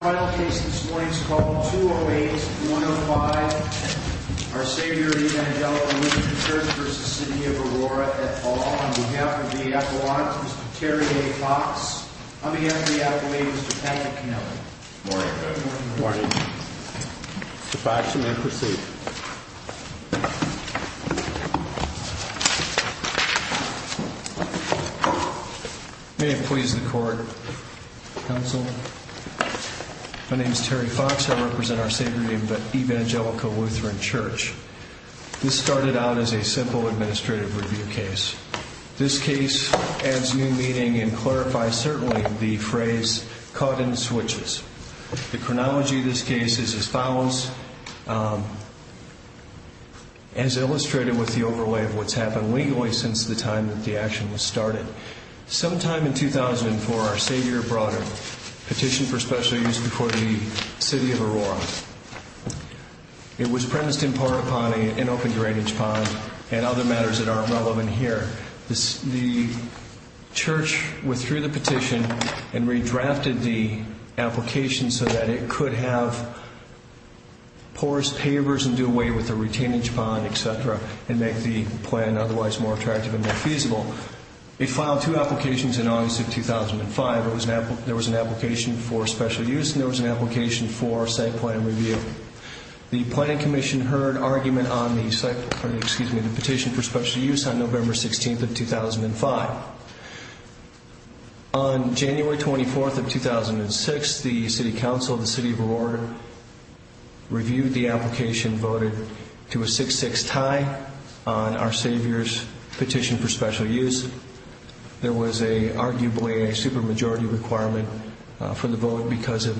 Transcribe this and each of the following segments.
Our final case this morning is called 208-105 Our Savior Evangelical Lutheran Church v. City of Aurora at Fall On behalf of the Appalachians, Mr. Terry A. Fox On behalf of the Appalachians, Mr. Patrick Canova Morning President Morning Mr. Fox, you may proceed May it please the Court Counsel My name is Terry Fox. I represent Our Savior Evangelical Lutheran Church This started out as a simple administrative review case This case adds new meaning and clarifies, certainly, the phrase, caught in the switches The chronology of this case is as follows As illustrated with the overlay of what's happened legally since the time that the action was started Sometime in 2004, Our Savior brought a petition for special use before the City of Aurora It was premised in part upon an open drainage pond and other matters that aren't relevant here The church withdrew the petition and redrafted the application so that it could have porous pavers and do away with the retainage pond, etc. and make the plan otherwise more attractive and more feasible It filed two applications in August of 2005 There was an application for special use and there was an application for site plan review The Planning Commission heard argument on the petition for special use on November 16th of 2005 On January 24th of 2006, the City Council of the City of Aurora reviewed the application and voted to a 6-6 tie on Our Savior's petition for special use There was arguably a supermajority requirement for the vote because of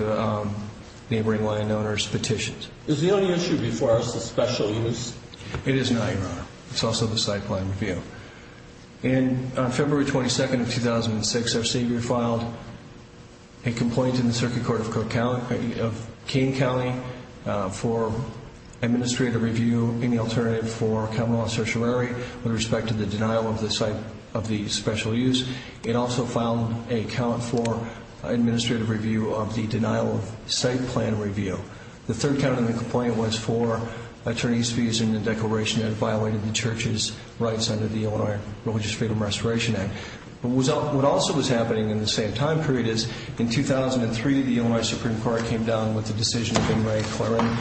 neighboring landowners' petitions Is the only issue before us the special use? It is not, Your Honor. It's also the site plan review On February 22nd of 2006, Our Savior filed a complaint in the Circuit Court of Kane County for administrative review and the alternative for Camelot Sertiorari with respect to the denial of the site of the special use It also filed a count for administrative review of the denial of site plan review The third count of the complaint was for attorneys' fees in the declaration that violated the Church's rights under the Illinois Religious Freedom Restoration Act What also was happening in the same time period is In 2003, the Illinois Supreme Court came down with the decision of Inouye-Claren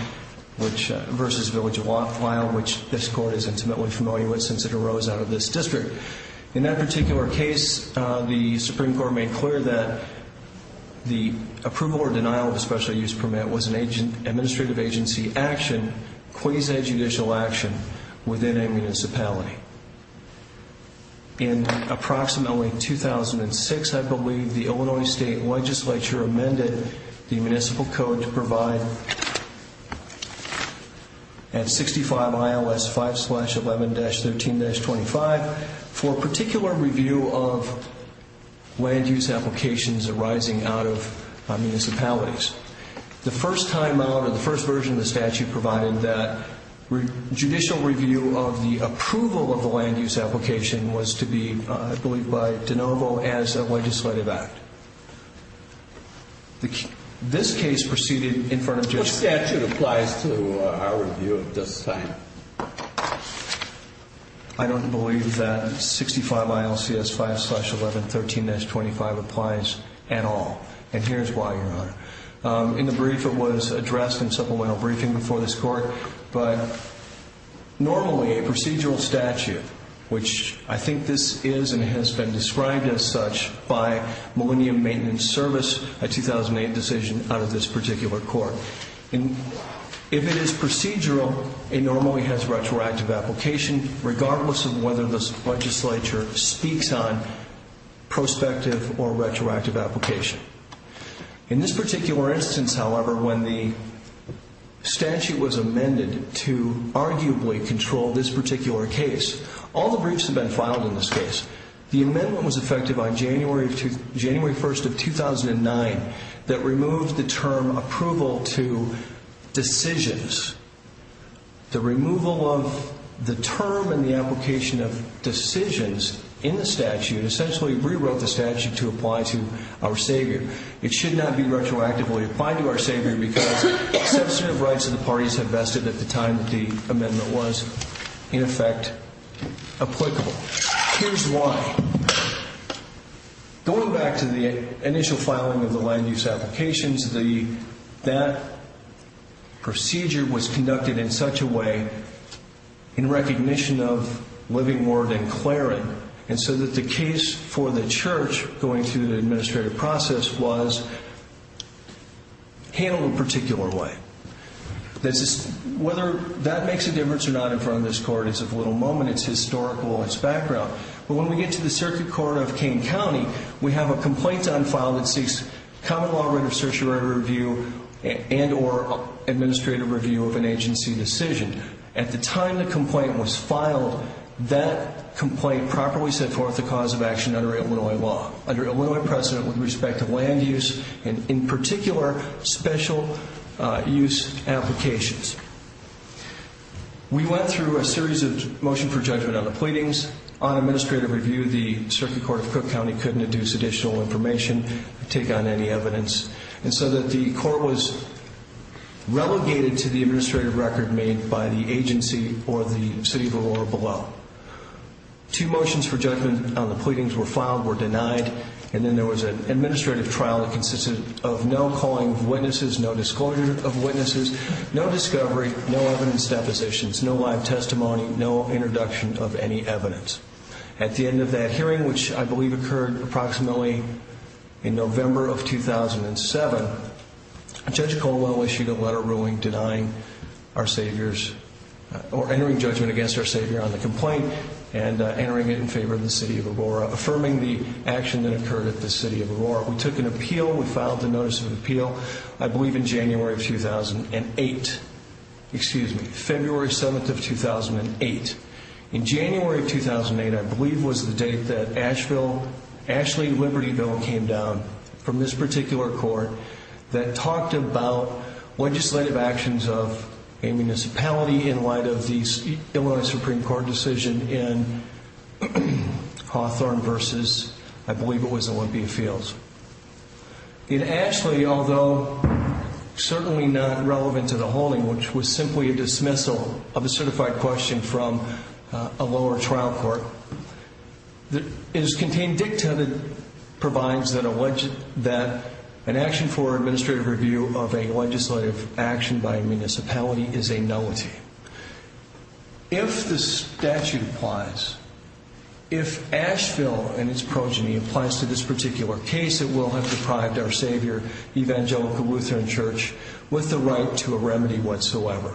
v. Village of Watt a file which this Court is intimately familiar with since it arose out of this district In that particular case, the Supreme Court made clear that the approval or denial of a special use permit was an administrative agency action quasi-judicial action within a municipality In approximately 2006, I believe, the Illinois State Legislature amended the Municipal Code to provide at 65 ILS 5-11-13-25 for a particular review of land use applications arising out of municipalities The first time out or the first version of the statute provided that judicial review of the approval of the land use application was to be, I believe, by de novo as a legislative act This case proceeded in front of judicial What statute applies to our review at this time? I don't believe that 65 ILS 5-11-13-25 applies at all And here's why, Your Honor In the brief, it was addressed in supplemental briefing before this Court Normally, a procedural statute, which I think this is and has been described as such by Millennium Maintenance Service a 2008 decision out of this particular Court If it is procedural, it normally has retroactive application regardless of whether this legislature speaks on prospective or retroactive application In this particular instance, however, when the statute was amended to arguably control this particular case All the briefs have been filed in this case The amendment was effected by January 1st of 2009 that removed the term approval to decisions The removal of the term and the application of decisions in the statute It essentially rewrote the statute to apply to our Savior It should not be retroactively applied to our Savior because sensitive rights of the parties have vested at the time that the amendment was in effect applicable Here's why Going back to the initial filing of the land use applications That procedure was conducted in such a way in recognition of Living Ward and Claren So that the case for the church going through the administrative process was handled in a particular way Whether that makes a difference or not in front of this Court is a little moment It's historical in its background But when we get to the Circuit Court of Kane County We have a complaint on file that seeks common law writ of certiorari review and or administrative review of an agency decision At the time the complaint was filed that complaint properly set forth the cause of action under Illinois law Under Illinois precedent with respect to land use and in particular special use applications We went through a series of motion for judgment on the pleadings On administrative review the Circuit Court of Cook County couldn't induce additional information Take on any evidence And so that the court was relegated to the administrative record made by the agency or the city of Illinois below Two motions for judgment on the pleadings were filed were denied And then there was an administrative trial that consisted of no calling of witnesses No disclosure of witnesses No discovery No evidence depositions No live testimony No introduction of any evidence At the end of that hearing which I believe occurred approximately in November of 2007 Judge Colwell issued a letter ruling denying our saviors Or entering judgment against our savior on the complaint And entering it in favor of the city of Aurora Affirming the action that occurred at the city of Aurora We took an appeal We filed a notice of appeal I believe in January of 2008 Excuse me February 7th of 2008 In January of 2008 I believe was the date that Ashley Liberty Bill came down From this particular court That talked about legislative actions of a municipality in light of the Illinois Supreme Court decision In Hawthorne versus I believe it was Olympia Fields In Ashley although certainly not relevant to the holding Which was simply a dismissal of a certified question from a lower trial court It is contained dicta that provides that an action for administrative review of a legislative action by a municipality is a nullity If the statute applies If Asheville and its progeny applies to this particular case It will have deprived our savior Evangelical Lutheran Church with the right to a remedy whatsoever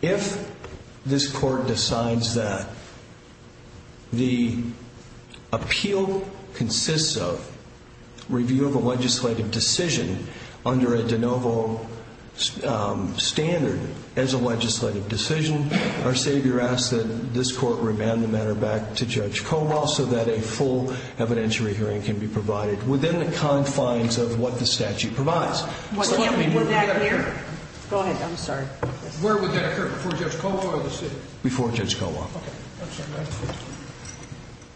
If this court decides that the appeal consists of review of a legislative decision Under a de novo standard as a legislative decision Our savior asks that this court remand the matter back to Judge Colwell So that a full evidentiary hearing can be provided within the confines of what the statute provides Was that here? Go ahead, I'm sorry Where would that occur? Before Judge Colwell or the city? Before Judge Colwell Okay I'm sorry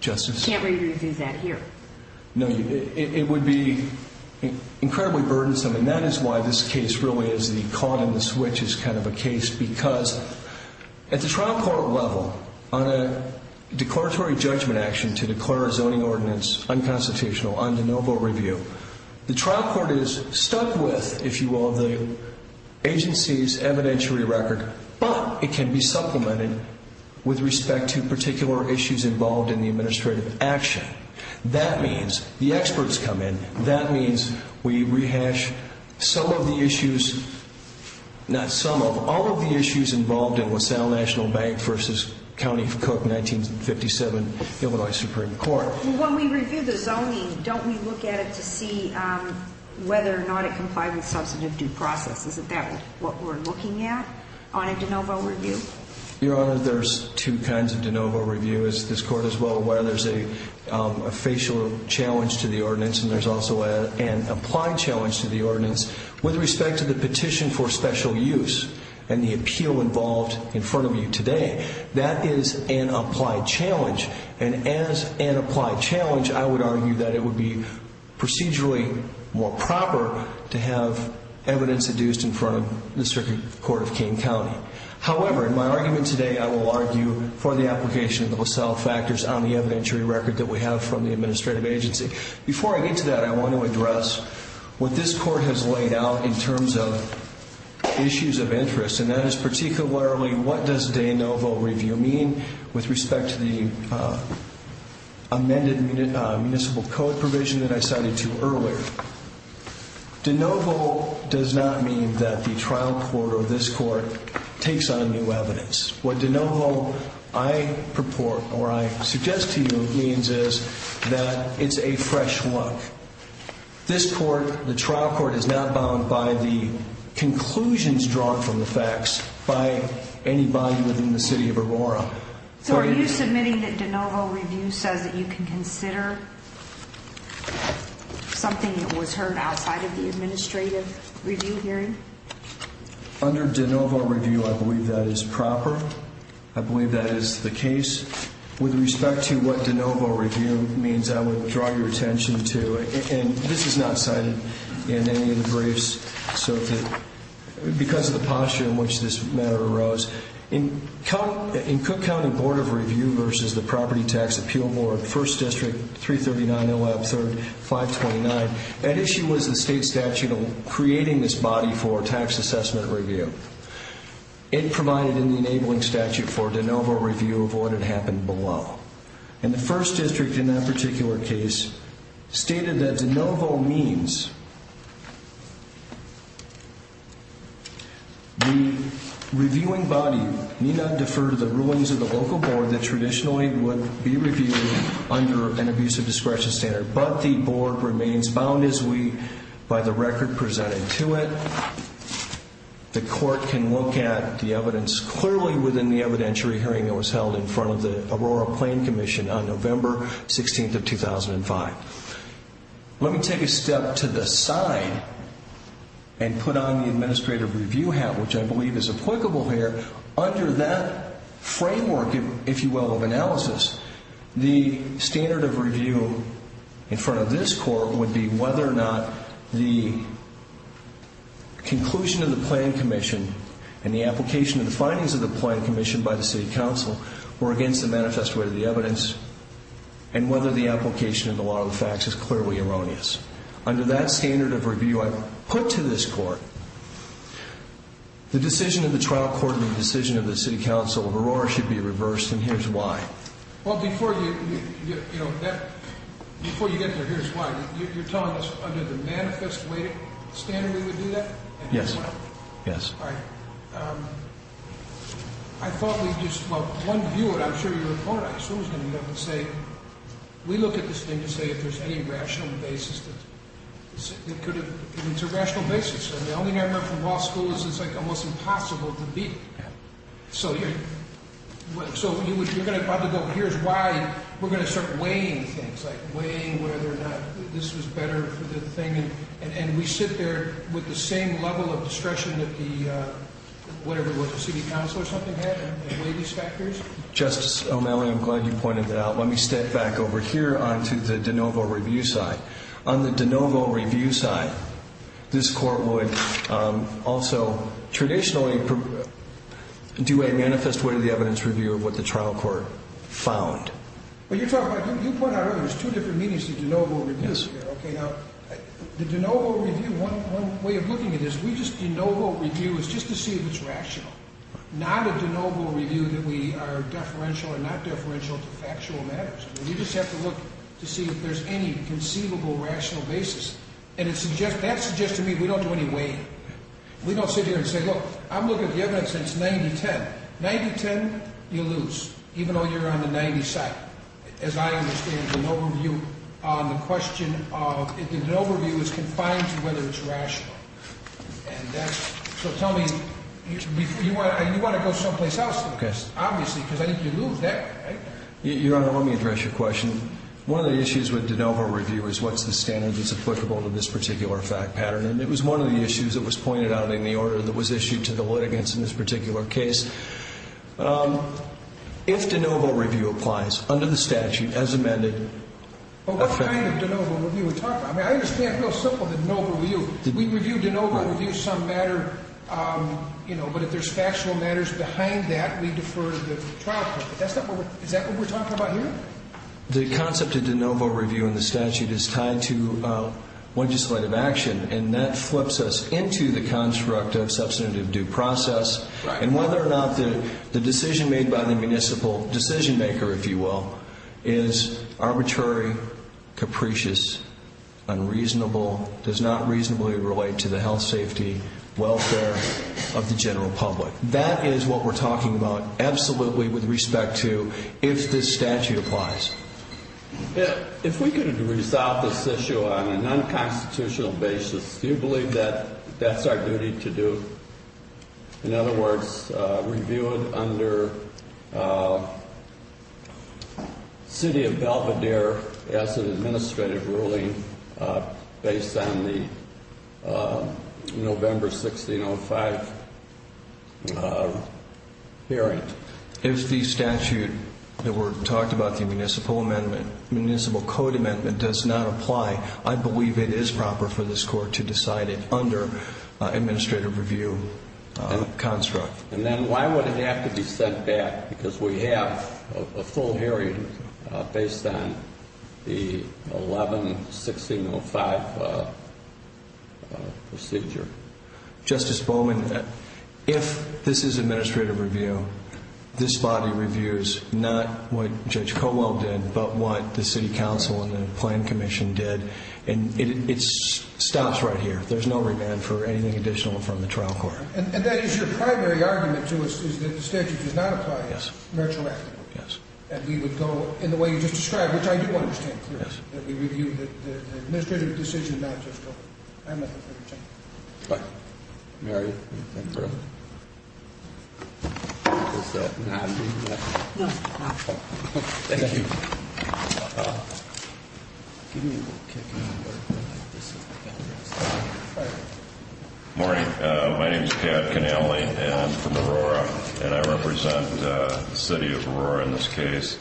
Justice You can't review that here No, it would be incredibly burdensome And that is why this case really is the caught in the switch is kind of a case Because at the trial court level On a declaratory judgment action to declare a zoning ordinance unconstitutional under de novo review The trial court is stuck with, if you will, the agency's evidentiary record But it can be supplemented with respect to particular issues involved in the administrative action That means the experts come in That means we rehash some of the issues Not some of, all of the issues involved in LaSalle National Bank v. County of Cook, 1957, Illinois Supreme Court When we review the zoning, don't we look at it to see whether or not it complies with substantive due process? Isn't that what we're looking at on a de novo review? Your Honor, there's two kinds of de novo review As this Court is well aware, there's a facial challenge to the ordinance And there's also an applied challenge to the ordinance With respect to the petition for special use And the appeal involved in front of you today That is an applied challenge And as an applied challenge, I would argue that it would be procedurally more proper To have evidence adduced in front of the circuit court of King County However, in my argument today, I will argue for the application of the LaSalle factors On the evidentiary record that we have from the administrative agency Before I get to that, I want to address what this Court has laid out in terms of issues of interest And that is particularly, what does de novo review mean With respect to the amended municipal code provision that I cited to you earlier De novo does not mean that the trial court or this Court takes on new evidence What de novo, I purport, or I suggest to you, means is that it's a fresh look This Court, the trial court, is not bound by the conclusions drawn from the facts So are you submitting that de novo review says that you can consider Something that was heard outside of the administrative review hearing? Under de novo review, I believe that is proper I believe that is the case With respect to what de novo review means, I would draw your attention to And this is not cited in any of the briefs So that, because of the posture in which this matter arose In Cook County Board of Review versus the Property Tax Appeal Board 1st District, 339-013-529 That issue was the state statute creating this body for tax assessment review It provided an enabling statute for de novo review of what had happened below And the 1st District, in that particular case, stated that de novo means The reviewing body may not defer to the rulings of the local board That traditionally would be reviewed under an abusive discretion standard But the board remains bound as we, by the record presented to it The court can look at the evidence clearly within the evidentiary hearing That was held in front of the Aurora Plain Commission on November 16th of 2005 Let me take a step to the side And put on the administrative review hat, which I believe is applicable here Under that framework, if you will, of analysis The standard of review in front of this court would be whether or not The conclusion of the Plain Commission And the application of the findings of the Plain Commission by the City Council Were against the manifesto of the evidence And whether the application of the law of the facts is clearly erroneous Under that standard of review I put to this court The decision of the trial court and the decision of the City Council of Aurora Should be reversed, and here's why Well, before you get there, here's why You're telling us under the manifesto standard we would do that? Yes All right I thought we'd just, well, one viewer, and I'm sure you were polarized Who was going to get up and say We look at this thing and say if there's any rational basis It's a rational basis The only thing I remember from law school is it's like almost impossible to beat it So you're going to probably go, here's why We're going to start weighing things, like weighing whether or not This was better for the thing And we sit there with the same level of discretion that the Whatever it was, the City Council or something had in weighing these factors Justice O'Malley, I'm glad you pointed that out Let me step back over here onto the de novo review side On the de novo review side This court would also traditionally Do a manifest way to the evidence review of what the trial court found But you're talking about, you pointed out earlier There's two different meanings to de novo review The de novo review, one way of looking at it is De novo review is just to see if it's rational Not a de novo review that we are deferential or not deferential to factual matters We just have to look to see if there's any conceivable rational basis And that suggests to me we don't do any weighing We don't sit here and say, look, I'm looking at the evidence since 1910 1910, you lose, even though you're on the 90 side As I understand, de novo review on the question of De novo review is confined to whether it's rational So tell me, you want to go someplace else Obviously, because I think you lose that Your Honor, let me address your question One of the issues with de novo review is what's the standard that's applicable to this particular fact pattern And it was one of the issues that was pointed out in the order that was issued to the litigants in this particular case If de novo review applies under the statute as amended What kind of de novo review are we talking about? I mean, I understand real simple the de novo review We review de novo review, some matter, you know But if there's factual matters behind that, we defer to the trial court Is that what we're talking about here? The concept of de novo review in the statute is tied to legislative action And that flips us into the construct of substantive due process And whether or not the decision made by the municipal decision maker, if you will Is arbitrary, capricious, unreasonable Does not reasonably relate to the health, safety, welfare of the general public That is what we're talking about absolutely with respect to if this statute applies If we could resolve this issue on a non-constitutional basis Do you believe that that's our duty to do? In other words, review it under City of Belvedere as an administrative ruling Based on the November 1605 hearing If the statute that we're talking about, the municipal amendment Municipal code amendment does not apply I believe it is proper for this court to decide it under administrative review construct And then why would it have to be sent back? Because we have a full hearing based on the 11-1605 procedure Justice Bowman, if this is administrative review This body reviews not what Judge Colwell did But what the city council and the plan commission did And it stops right here, there's no remand for anything additional from the trial court And that is your primary argument to us, is that the statute does not apply Virtually Yes And we would go in the way you just described, which I do understand clearly That we review the administrative decision, not just the amendment Mary, do you want to come through? Morning, my name is Pat Connelly and I'm from Aurora And I represent the city of Aurora in this case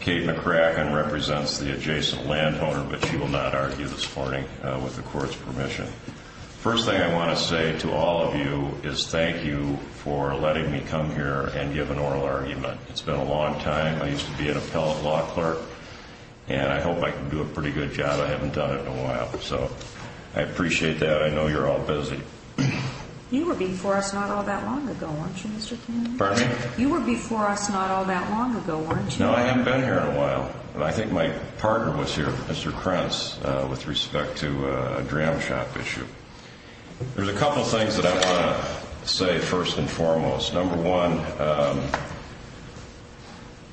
Kate McCracken represents the adjacent landowner But she will not argue this morning with the court's permission First thing I want to say to all of you is thank you for letting me come here and give an oral argument It's been a long time, I used to be an appellate law clerk And I hope I can do a pretty good job, I haven't done it in a while So I appreciate that, I know you're all busy You were before us not all that long ago, weren't you Mr. Connelly? You were before us not all that long ago, weren't you? No, I haven't been here in a while But I think my partner was here, Mr. Krentz, with respect to a dram shop issue There's a couple of things that I want to say first and foremost Number one,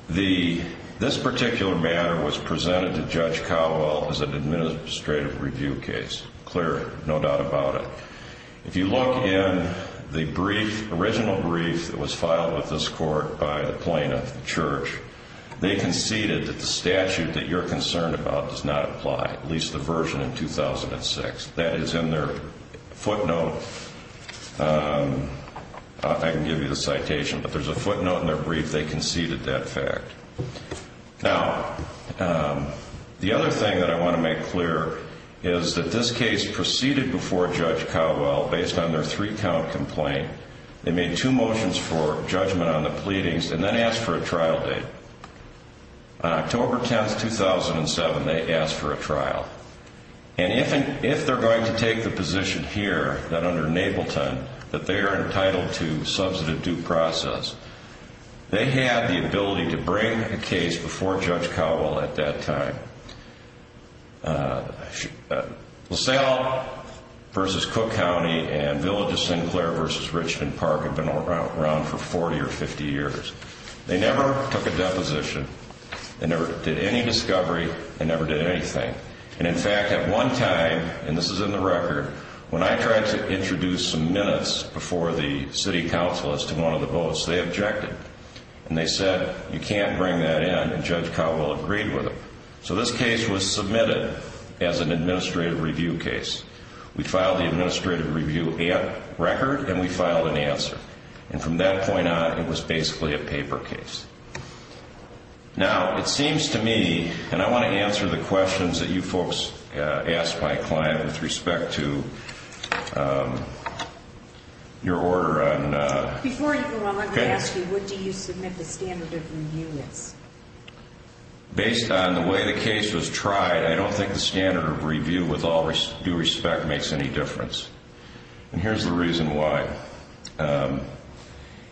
this particular matter was presented to Judge Cowell as an administrative review case Clear, no doubt about it If you look in the original brief that was filed with this court by the plaintiff, the church They conceded that the statute that you're concerned about does not apply At least the version in 2006 That is in their footnote I can give you the citation, but there's a footnote in their brief, they conceded that fact Now, the other thing that I want to make clear is that this case proceeded before Judge Cowell Based on their three count complaint They made two motions for judgment on the pleadings and then asked for a trial date On October 10th, 2007, they asked for a trial And if they're going to take the position here, that under Napleton That they are entitled to substantive due process They had the ability to bring a case before Judge Cowell at that time LaSalle v. Cook County and Villages Sinclair v. Richmond Park have been around for 40 or 50 years They never took a deposition They never did any discovery They never did anything And in fact, at one time, and this is in the record When I tried to introduce some minutes before the city council as to one of the votes, they objected And they said, you can't bring that in And Judge Cowell agreed with it So this case was submitted as an administrative review case We filed the administrative review record and we filed an answer And from that point on, it was basically a paper case Now, it seems to me, and I want to answer the questions that you folks asked my client with respect to your order on Before you go, I want to ask you, what do you submit the standard of review as? Based on the way the case was tried, I don't think the standard of review with all due respect makes any difference And here's the reason why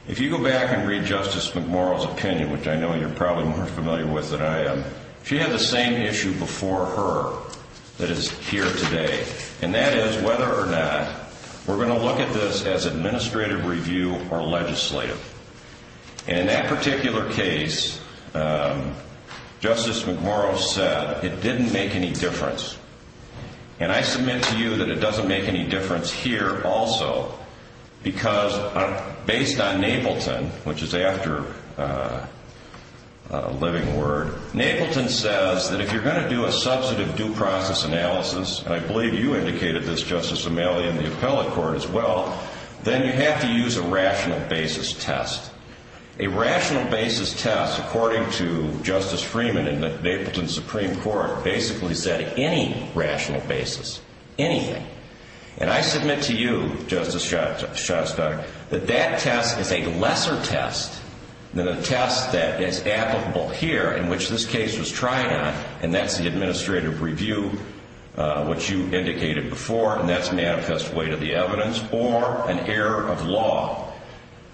If you go back and read Justice McMorrow's opinion, which I know you're probably more familiar with than I am She had the same issue before her that is here today And that is whether or not we're going to look at this as administrative review or legislative And in that particular case, Justice McMorrow said it didn't make any difference And I submit to you that it doesn't make any difference here also Because based on Napleton, which is after Living Word Napleton says that if you're going to do a substantive due process analysis And I believe you indicated this, Justice O'Malley, in the appellate court as well Then you have to use a rational basis test A rational basis test, according to Justice Freeman in the Napleton Supreme Court Basically said any rational basis, anything And I submit to you, Justice Shostak, that that test is a lesser test than the test that is applicable here In which this case was tried on And that's the administrative review, which you indicated before And that's manifest way to the evidence or an error of law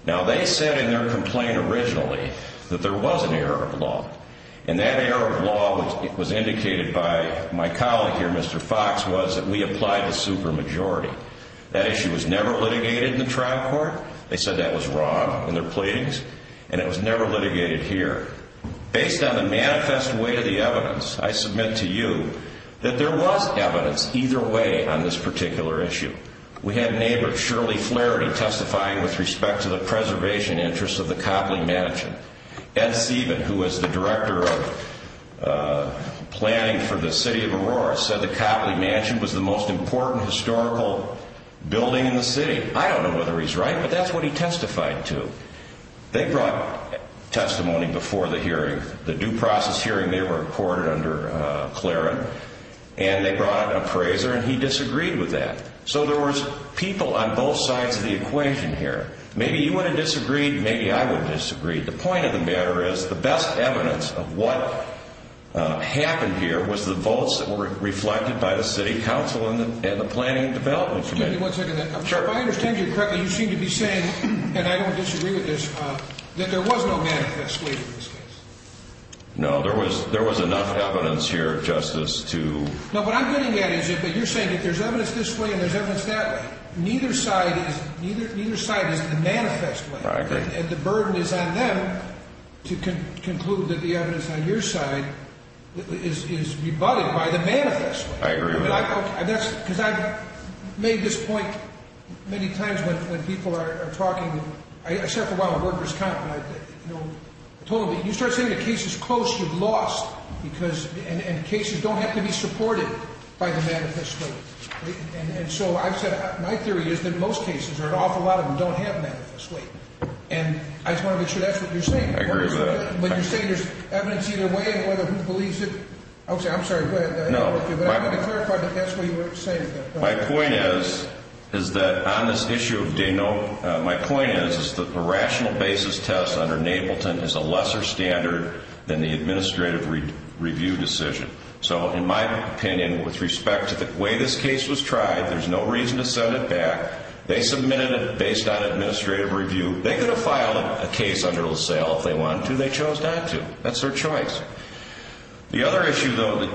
Now they said in their complaint originally that there was an error of law And that error of law was indicated by my colleague here, Mr. Fox, was that we applied the supermajority That issue was never litigated in the trial court They said that was wrong in their pleadings And it was never litigated here Based on the manifest way to the evidence, I submit to you That there was evidence either way on this particular issue We had neighbor Shirley Flaherty testifying with respect to the preservation interests of the Copley Mansion Ed Sieben, who was the director of planning for the city of Aurora Said the Copley Mansion was the most important historical building in the city I don't know whether he's right, but that's what he testified to They brought testimony before the hearing The due process hearing there were recorded under Claren And they brought an appraiser and he disagreed with that So there was people on both sides of the equation here Maybe you would have disagreed, maybe I would have disagreed The point of the matter is the best evidence of what happened here Was the votes that were reflected by the city council and the planning and development committee If I understand you correctly, you seem to be saying, and I don't disagree with this That there was no manifest way to this case No, there was enough evidence here, Justice, to No, what I'm getting at is you're saying that there's evidence this way and there's evidence that way Neither side is the manifest way I agree And the burden is on them to conclude that the evidence on your side is rebutted by the manifest way I agree with that Because I've made this point many times when people are talking I sat for a while at workers' comp and I told them, you start saying the case is close, you've lost And cases don't have to be supported by the manifest way And so I've said, my theory is that most cases, or an awful lot of them, don't have manifest way And I just want to make sure that's what you're saying I agree with that When you're saying there's evidence either way and whether who believes it Okay, I'm sorry, go ahead No But I wanted to clarify that that's what you were saying My point is that on this issue of Dano, my point is that the rational basis test under Nableton is a lesser standard than the administrative review decision So in my opinion, with respect to the way this case was tried, there's no reason to send it back They submitted it based on administrative review They could have filed a case under LaSalle if they wanted to, they chose not to That's their choice The other issue, though,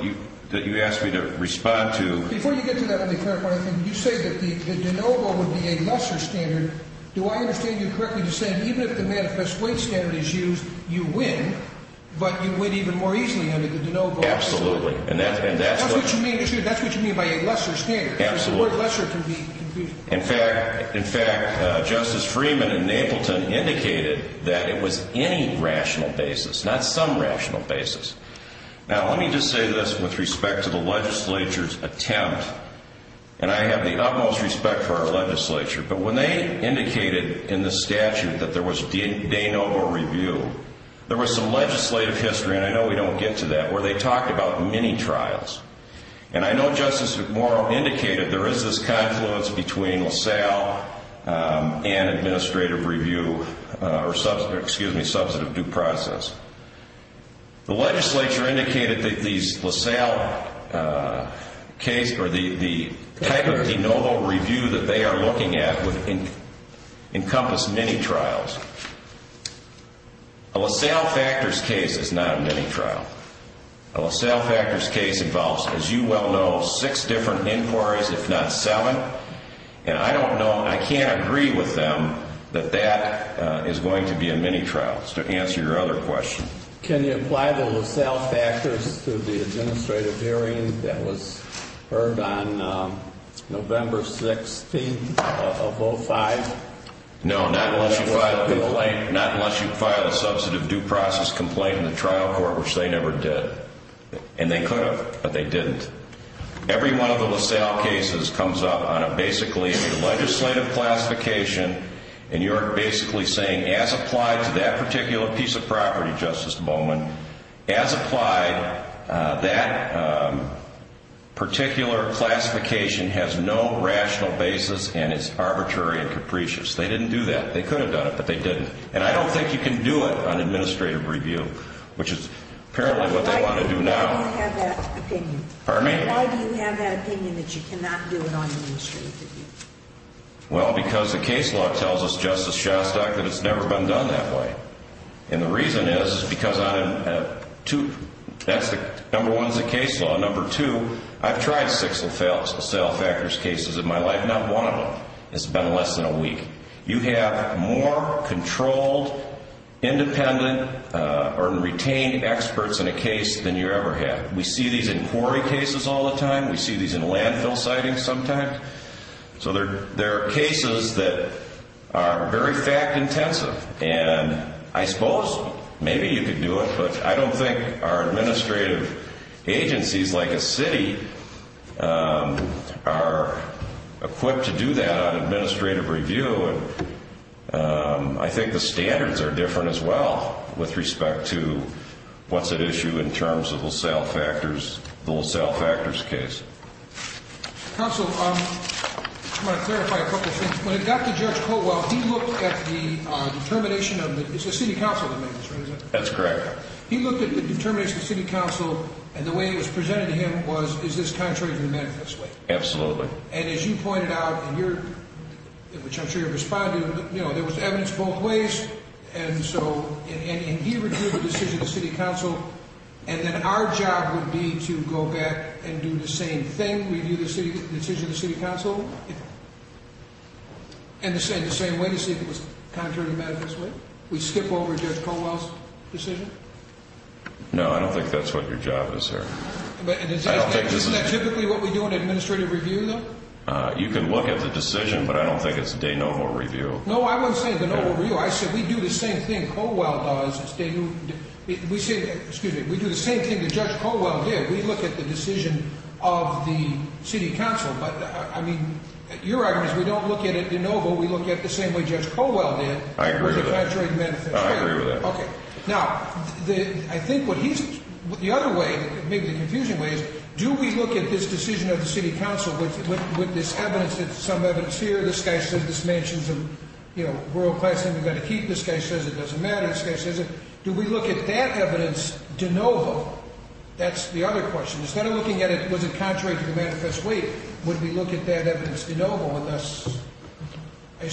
that you asked me to respond to Before you get to that, let me clarify one thing You say that the Danovo would be a lesser standard Do I understand you correctly to say that even if the manifest way standard is used, you win, but you win even more easily under the Danovo Absolutely That's what you mean by a lesser standard The word lesser can be confusing In fact, Justice Freeman in Napleton indicated that it was any rational basis, not some rational basis Now let me just say this with respect to the legislature's attempt And I have the utmost respect for our legislature But when they indicated in the statute that there was Danovo review There was some legislative history, and I know we don't get to that, where they talked about mini-trials And I know Justice McMorrow indicated there is this confluence between LaSalle and administrative review Or, excuse me, substantive due process The legislature indicated that the type of Danovo review that they are looking at would encompass mini-trials A LaSalle factors case is not a mini-trial A LaSalle factors case involves, as you well know, six different inquiries, if not seven And I don't know, I can't agree with them that that is going to be a mini-trial To answer your other question Can you apply the LaSalle factors to the administrative hearing that was heard on November 6th of 05? No, not unless you file a substantive due process complaint in the trial court, which they never did And they could have, but they didn't Every one of the LaSalle cases comes up on a basically legislative classification And you are basically saying, as applied to that particular piece of property, Justice Bowman As applied, that particular classification has no rational basis and is arbitrary and capricious They didn't do that. They could have done it, but they didn't And I don't think you can do it on administrative review, which is apparently what they want to do now Why do you have that opinion? Pardon me? Why do you have that opinion that you cannot do it on administrative review? Well, because the case law tells us, Justice Shostak, that it's never been done that way And the reason is, because number one, it's a case law Number two, I've tried six LaSalle factors cases in my life Not one of them has been less than a week You have more controlled, independent, or retained experts in a case than you ever have We see these in quarry cases all the time We see these in landfill sightings sometimes So there are cases that are very fact-intensive And I suppose maybe you could do it But I don't think our administrative agencies, like a city, are equipped to do that on administrative review I think the standards are different as well, with respect to what's at issue in terms of LaSalle factors The LaSalle factors case Counsel, I want to clarify a couple of things When it got to Judge Colwell, he looked at the determination of the... It's the city council that made this, right? That's correct He looked at the determination of the city council And the way it was presented to him was, is this contrary to the manifest way? Absolutely And as you pointed out, which I'm sure you're responding to There was evidence both ways And he reviewed the decision of the city council And then our job would be to go back and do the same thing Review the decision of the city council And the same way to see if it was contrary to the manifest way We skip over Judge Colwell's decision? No, I don't think that's what your job is here Isn't that typically what we do in administrative review, though? You can look at the decision, but I don't think it's de novo review No, I wasn't saying de novo review I said we do the same thing Colwell does We do the same thing that Judge Colwell did We look at the decision of the city council But I mean, your argument is we don't look at it de novo We look at it the same way Judge Colwell did I agree with that Was it contrary to the manifest way? I agree with that Now, I think the other way, maybe the confusing way Is do we look at this decision of the city council With this evidence, some evidence here This guy says this mentions a world-class thing we've got to keep This guy says it doesn't matter This guy says it Do we look at that evidence de novo? That's the other question Instead of looking at it, was it contrary to the manifest way Would we look at that evidence de novo and thus...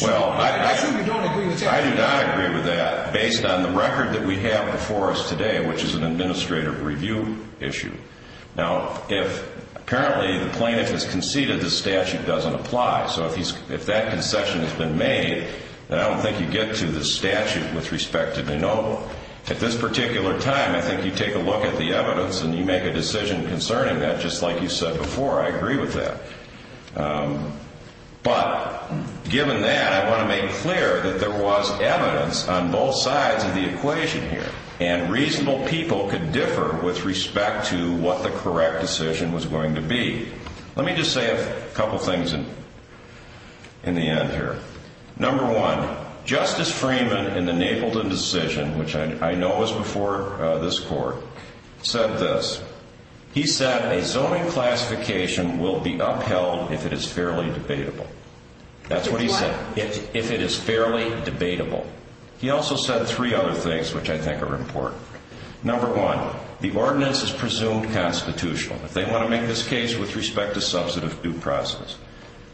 Well, I do not agree with that Based on the record that we have before us today Which is an administrative review issue Now, if apparently the plaintiff has conceded The statute doesn't apply So if that concession has been made Then I don't think you get to the statute with respect to de novo At this particular time, I think you take a look at the evidence And you make a decision concerning that Just like you said before, I agree with that But, given that, I want to make clear That there was evidence on both sides of the equation here And reasonable people could differ with respect to What the correct decision was going to be Let me just say a couple things in the end here Number one, Justice Freeman in the Napleton decision Which I know was before this court Said this That's what he said If it is fairly debatable He also said three other things which I think are important Number one, the ordinance is presumed constitutional If they want to make this case with respect to substantive due process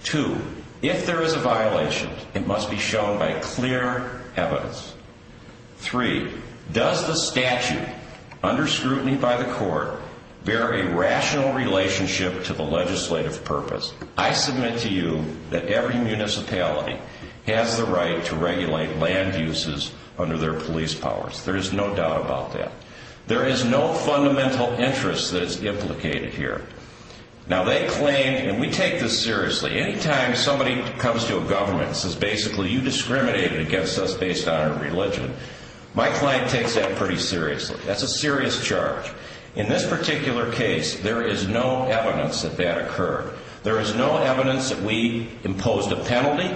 Two, if there is a violation It must be shown by clear evidence Three, does the statute, under scrutiny by the court Bear a rational relationship to the legislative purpose? I submit to you that every municipality Has the right to regulate land uses under their police powers There is no doubt about that There is no fundamental interest that is implicated here Now they claim, and we take this seriously Anytime somebody comes to a government And says basically you discriminated against us Based on our religion My client takes that pretty seriously That's a serious charge In this particular case There is no evidence that that occurred There is no evidence that we imposed a penalty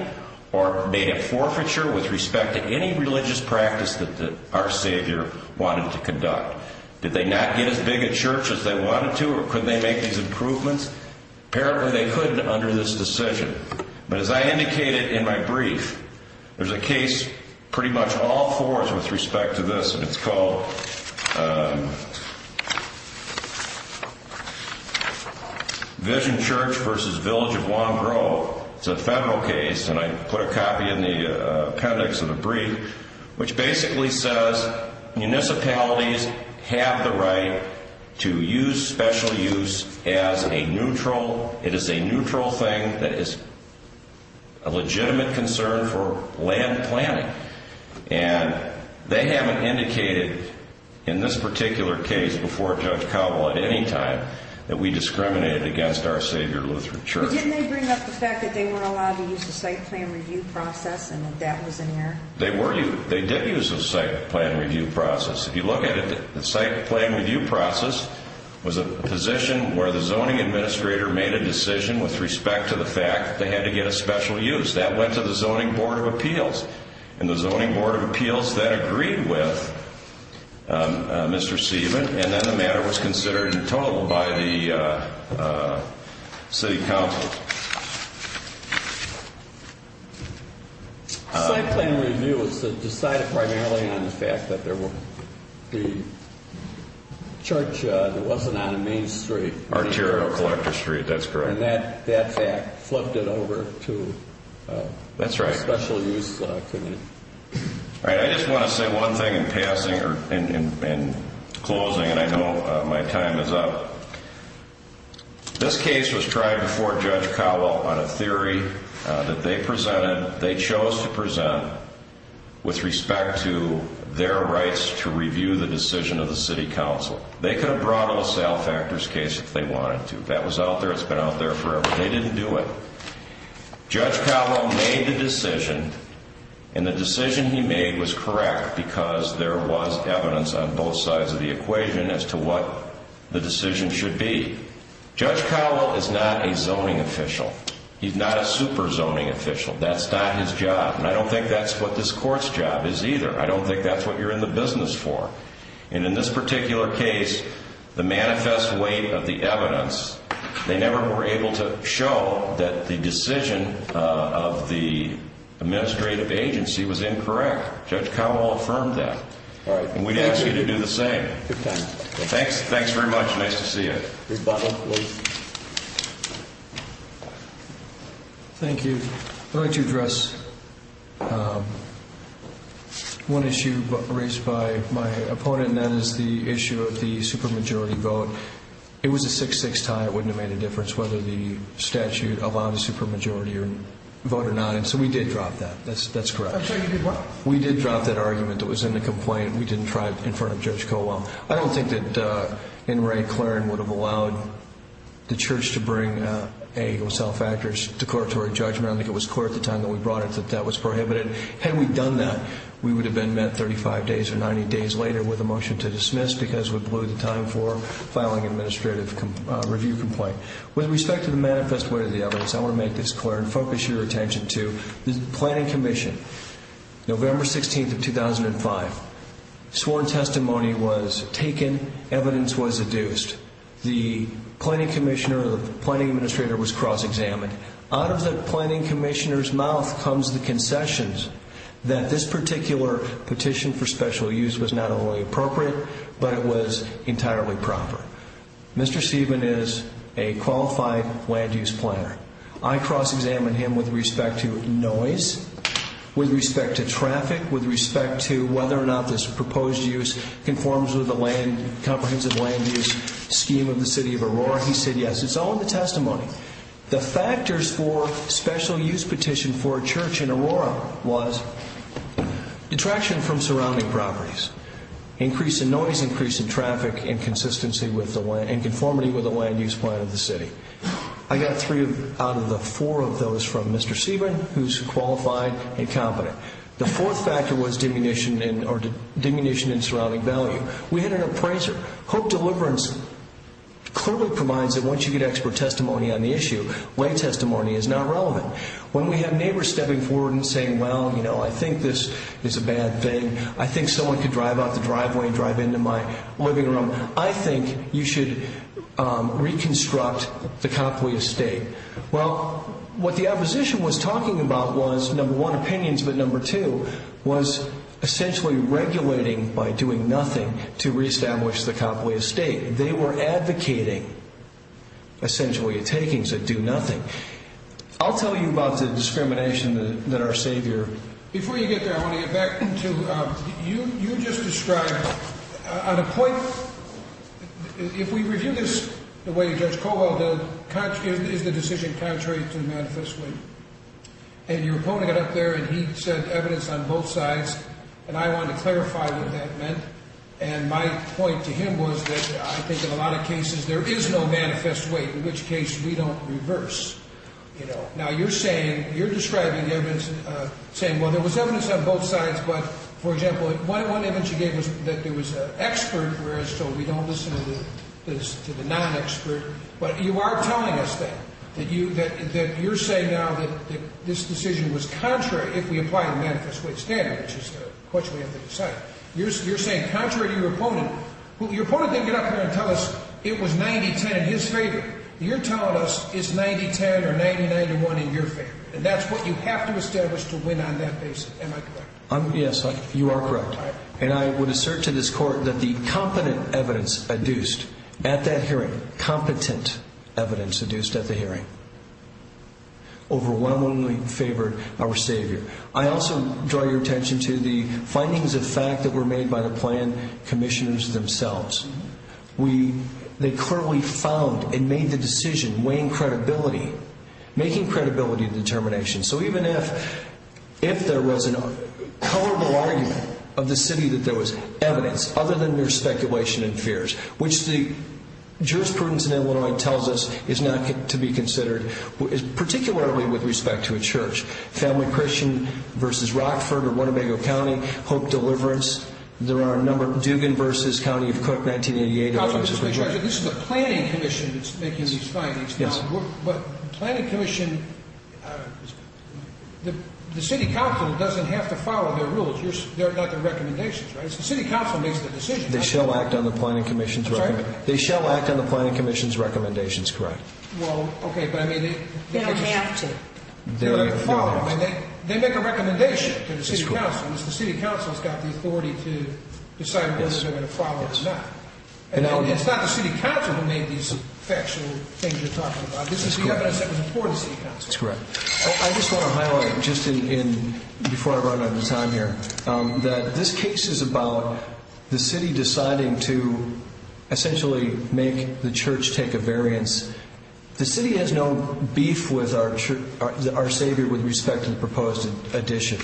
Or made a forfeiture with respect to any religious practice That our savior wanted to conduct Did they not get as big a church as they wanted to? Or could they make these improvements? Apparently they couldn't under this decision But as I indicated in my brief There's a case pretty much all fours with respect to this And it's called Vision Church vs. Village of Long Grove It's a federal case And I put a copy in the appendix of the brief Which basically says Municipalities have the right To use special use as a neutral It is a neutral thing That is a legitimate concern for land planning And they haven't indicated In this particular case Before Judge Cowbell at any time That we discriminated against our savior Lutheran Church But didn't they bring up the fact that they weren't allowed To use the site plan review process And that that was an error? They did use the site plan review process If you look at it The site plan review process Was a position where the zoning administrator Made a decision with respect to the fact That they had to get a special use That went to the Zoning Board of Appeals And the Zoning Board of Appeals That agreed with Mr. Seaman And then the matter was considered And told by the City Council The site plan review was decided primarily On the fact that there were The church that wasn't on Main Street Arterial Collector Street, that's correct And that fact flipped it over to The Special Use Committee I just want to say one thing in passing In closing, and I know my time is up This case was tried before Judge Cowbell On a theory that they presented They chose to present With respect to their rights To review the decision of the City Council They could have brought up a sale factors case If they wanted to That was out there, it's been out there forever They didn't do it Judge Cowbell made the decision And the decision he made was correct Because there was evidence on both sides Of the equation as to what The decision should be Judge Cowbell is not a zoning official He's not a super zoning official That's not his job And I don't think that's what this court's job is either I don't think that's what you're in the business for And in this particular case The manifest weight of the evidence They never were able to show That the decision of the Administrative agency was incorrect Judge Cowbell affirmed that And we ask you to do the same Thanks very much, nice to see you Thank you I'd like to address One issue raised by my opponent And that is the issue of the supermajority vote It was a 6-6 tie, it wouldn't have made a difference Whether the statute allowed a supermajority vote or not So we did drop that, that's correct I'm sorry, you did what? We did drop that argument That was in the complaint We didn't try it in front of Judge Cowbell I don't think that N. Ray Claren would have allowed The church to bring a sale factors Decoratory judgment I think it was clear at the time that we brought it That that was prohibited Had we done that We would have been met 35 days or 90 days later With a motion to dismiss Because we blew the time for Filing an administrative review complaint With respect to the manifest way of the evidence I want to make this clear And focus your attention to The Planning Commission November 16th of 2005 Sworn testimony was taken Evidence was adduced The Planning Commissioner The Planning Administrator was cross-examined Out of the Planning Commissioner's mouth Comes the concessions That this particular petition for special use Was not only appropriate But it was entirely proper Mr. Steven is a qualified land use planner I cross-examined him with respect to noise With respect to traffic With respect to whether or not this proposed use Conforms with the comprehensive land use scheme Of the City of Aurora He said yes It's all in the testimony The factors for special use petition For a church in Aurora Detraction from surrounding properties Increase in noise Increase in traffic And conformity with the land use plan of the city I got three out of the four of those From Mr. Steven Who's qualified and competent The fourth factor was Diminution in surrounding value We had an appraiser Hope Deliverance Clearly combines it Once you get expert testimony on the issue Land testimony is not relevant When we have neighbors stepping forward And saying, well, you know I think this is a bad thing I think someone could drive out the driveway And drive into my living room I think you should reconstruct The Copley Estate Well, what the opposition was talking about Was, number one, opinions But number two Was essentially regulating By doing nothing To reestablish the Copley Estate They were advocating Essentially a taking To do nothing I'll tell you about the discrimination That our savior Before you get there I want to get back to You just described On a point If we review this The way Judge Colwell did Is the decision contrary to manifest weight And your opponent got up there And he said evidence on both sides And I want to clarify what that meant And my point to him was That I think in a lot of cases There is no manifest weight In which case we don't reverse You know Now you're saying You're describing evidence Saying, well, there was evidence on both sides But, for example One image you gave us That there was an expert So we don't listen to the non-expert But you are telling us that That you're saying now That this decision was contrary If we apply the manifest weight standard Which is the question we have to decide You're saying contrary to your opponent Your opponent didn't get up there And tell us it was 90-10 in his favor You're telling us It's 90-10 or 90-91 in your favor And that's what you have to establish To win on that basis Am I correct? Yes, you are correct And I would assert to this court That the competent evidence Adduced at that hearing Competent evidence Adduced at the hearing Overwhelmingly favored our savior I also draw your attention to The findings of fact that were made By the plan commissioners themselves They clearly found And made the decision Weighing credibility Making credibility determination So even if If there was a Colorable argument Of the city that there was evidence Other than their speculation and fears Which the Jurisprudence in Illinois tells us Is not to be considered Particularly with respect to a church Family Christian versus Rockford Or Winnebago County Hope Deliverance There are a number Dugan versus County of Cook 1988 This is a planning commission That's making these findings Yes But planning commission The city council Doesn't have to follow their rules They're not the recommendations The city council makes the decisions They shall act on the planning commission's They shall act on the planning commission's Recommendations, correct Well, okay, but I mean They don't have to They follow They make a recommendation To the city council And the city council Has got the authority to Decide whether they're going to follow it or not And it's not the city council It's Rockford who made these Factual things you're talking about This is the evidence That was before the city council That's correct I just want to highlight Just in Before I run out of time here That this case is about The city deciding to Essentially make the church Take a variance The city has no beef with our Our savior with respect to the proposed addition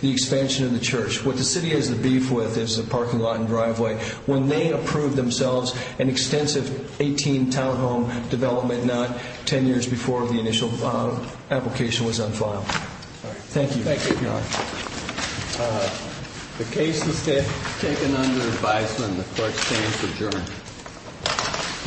The expansion of the church What the city has the beef with Is the parking lot and driveway When they approve themselves An extensive 18 townhome development Not 10 years before the initial Application was on file All right, thank you Thank you, Your Honor The case is taken under Advisement The court stands adjourned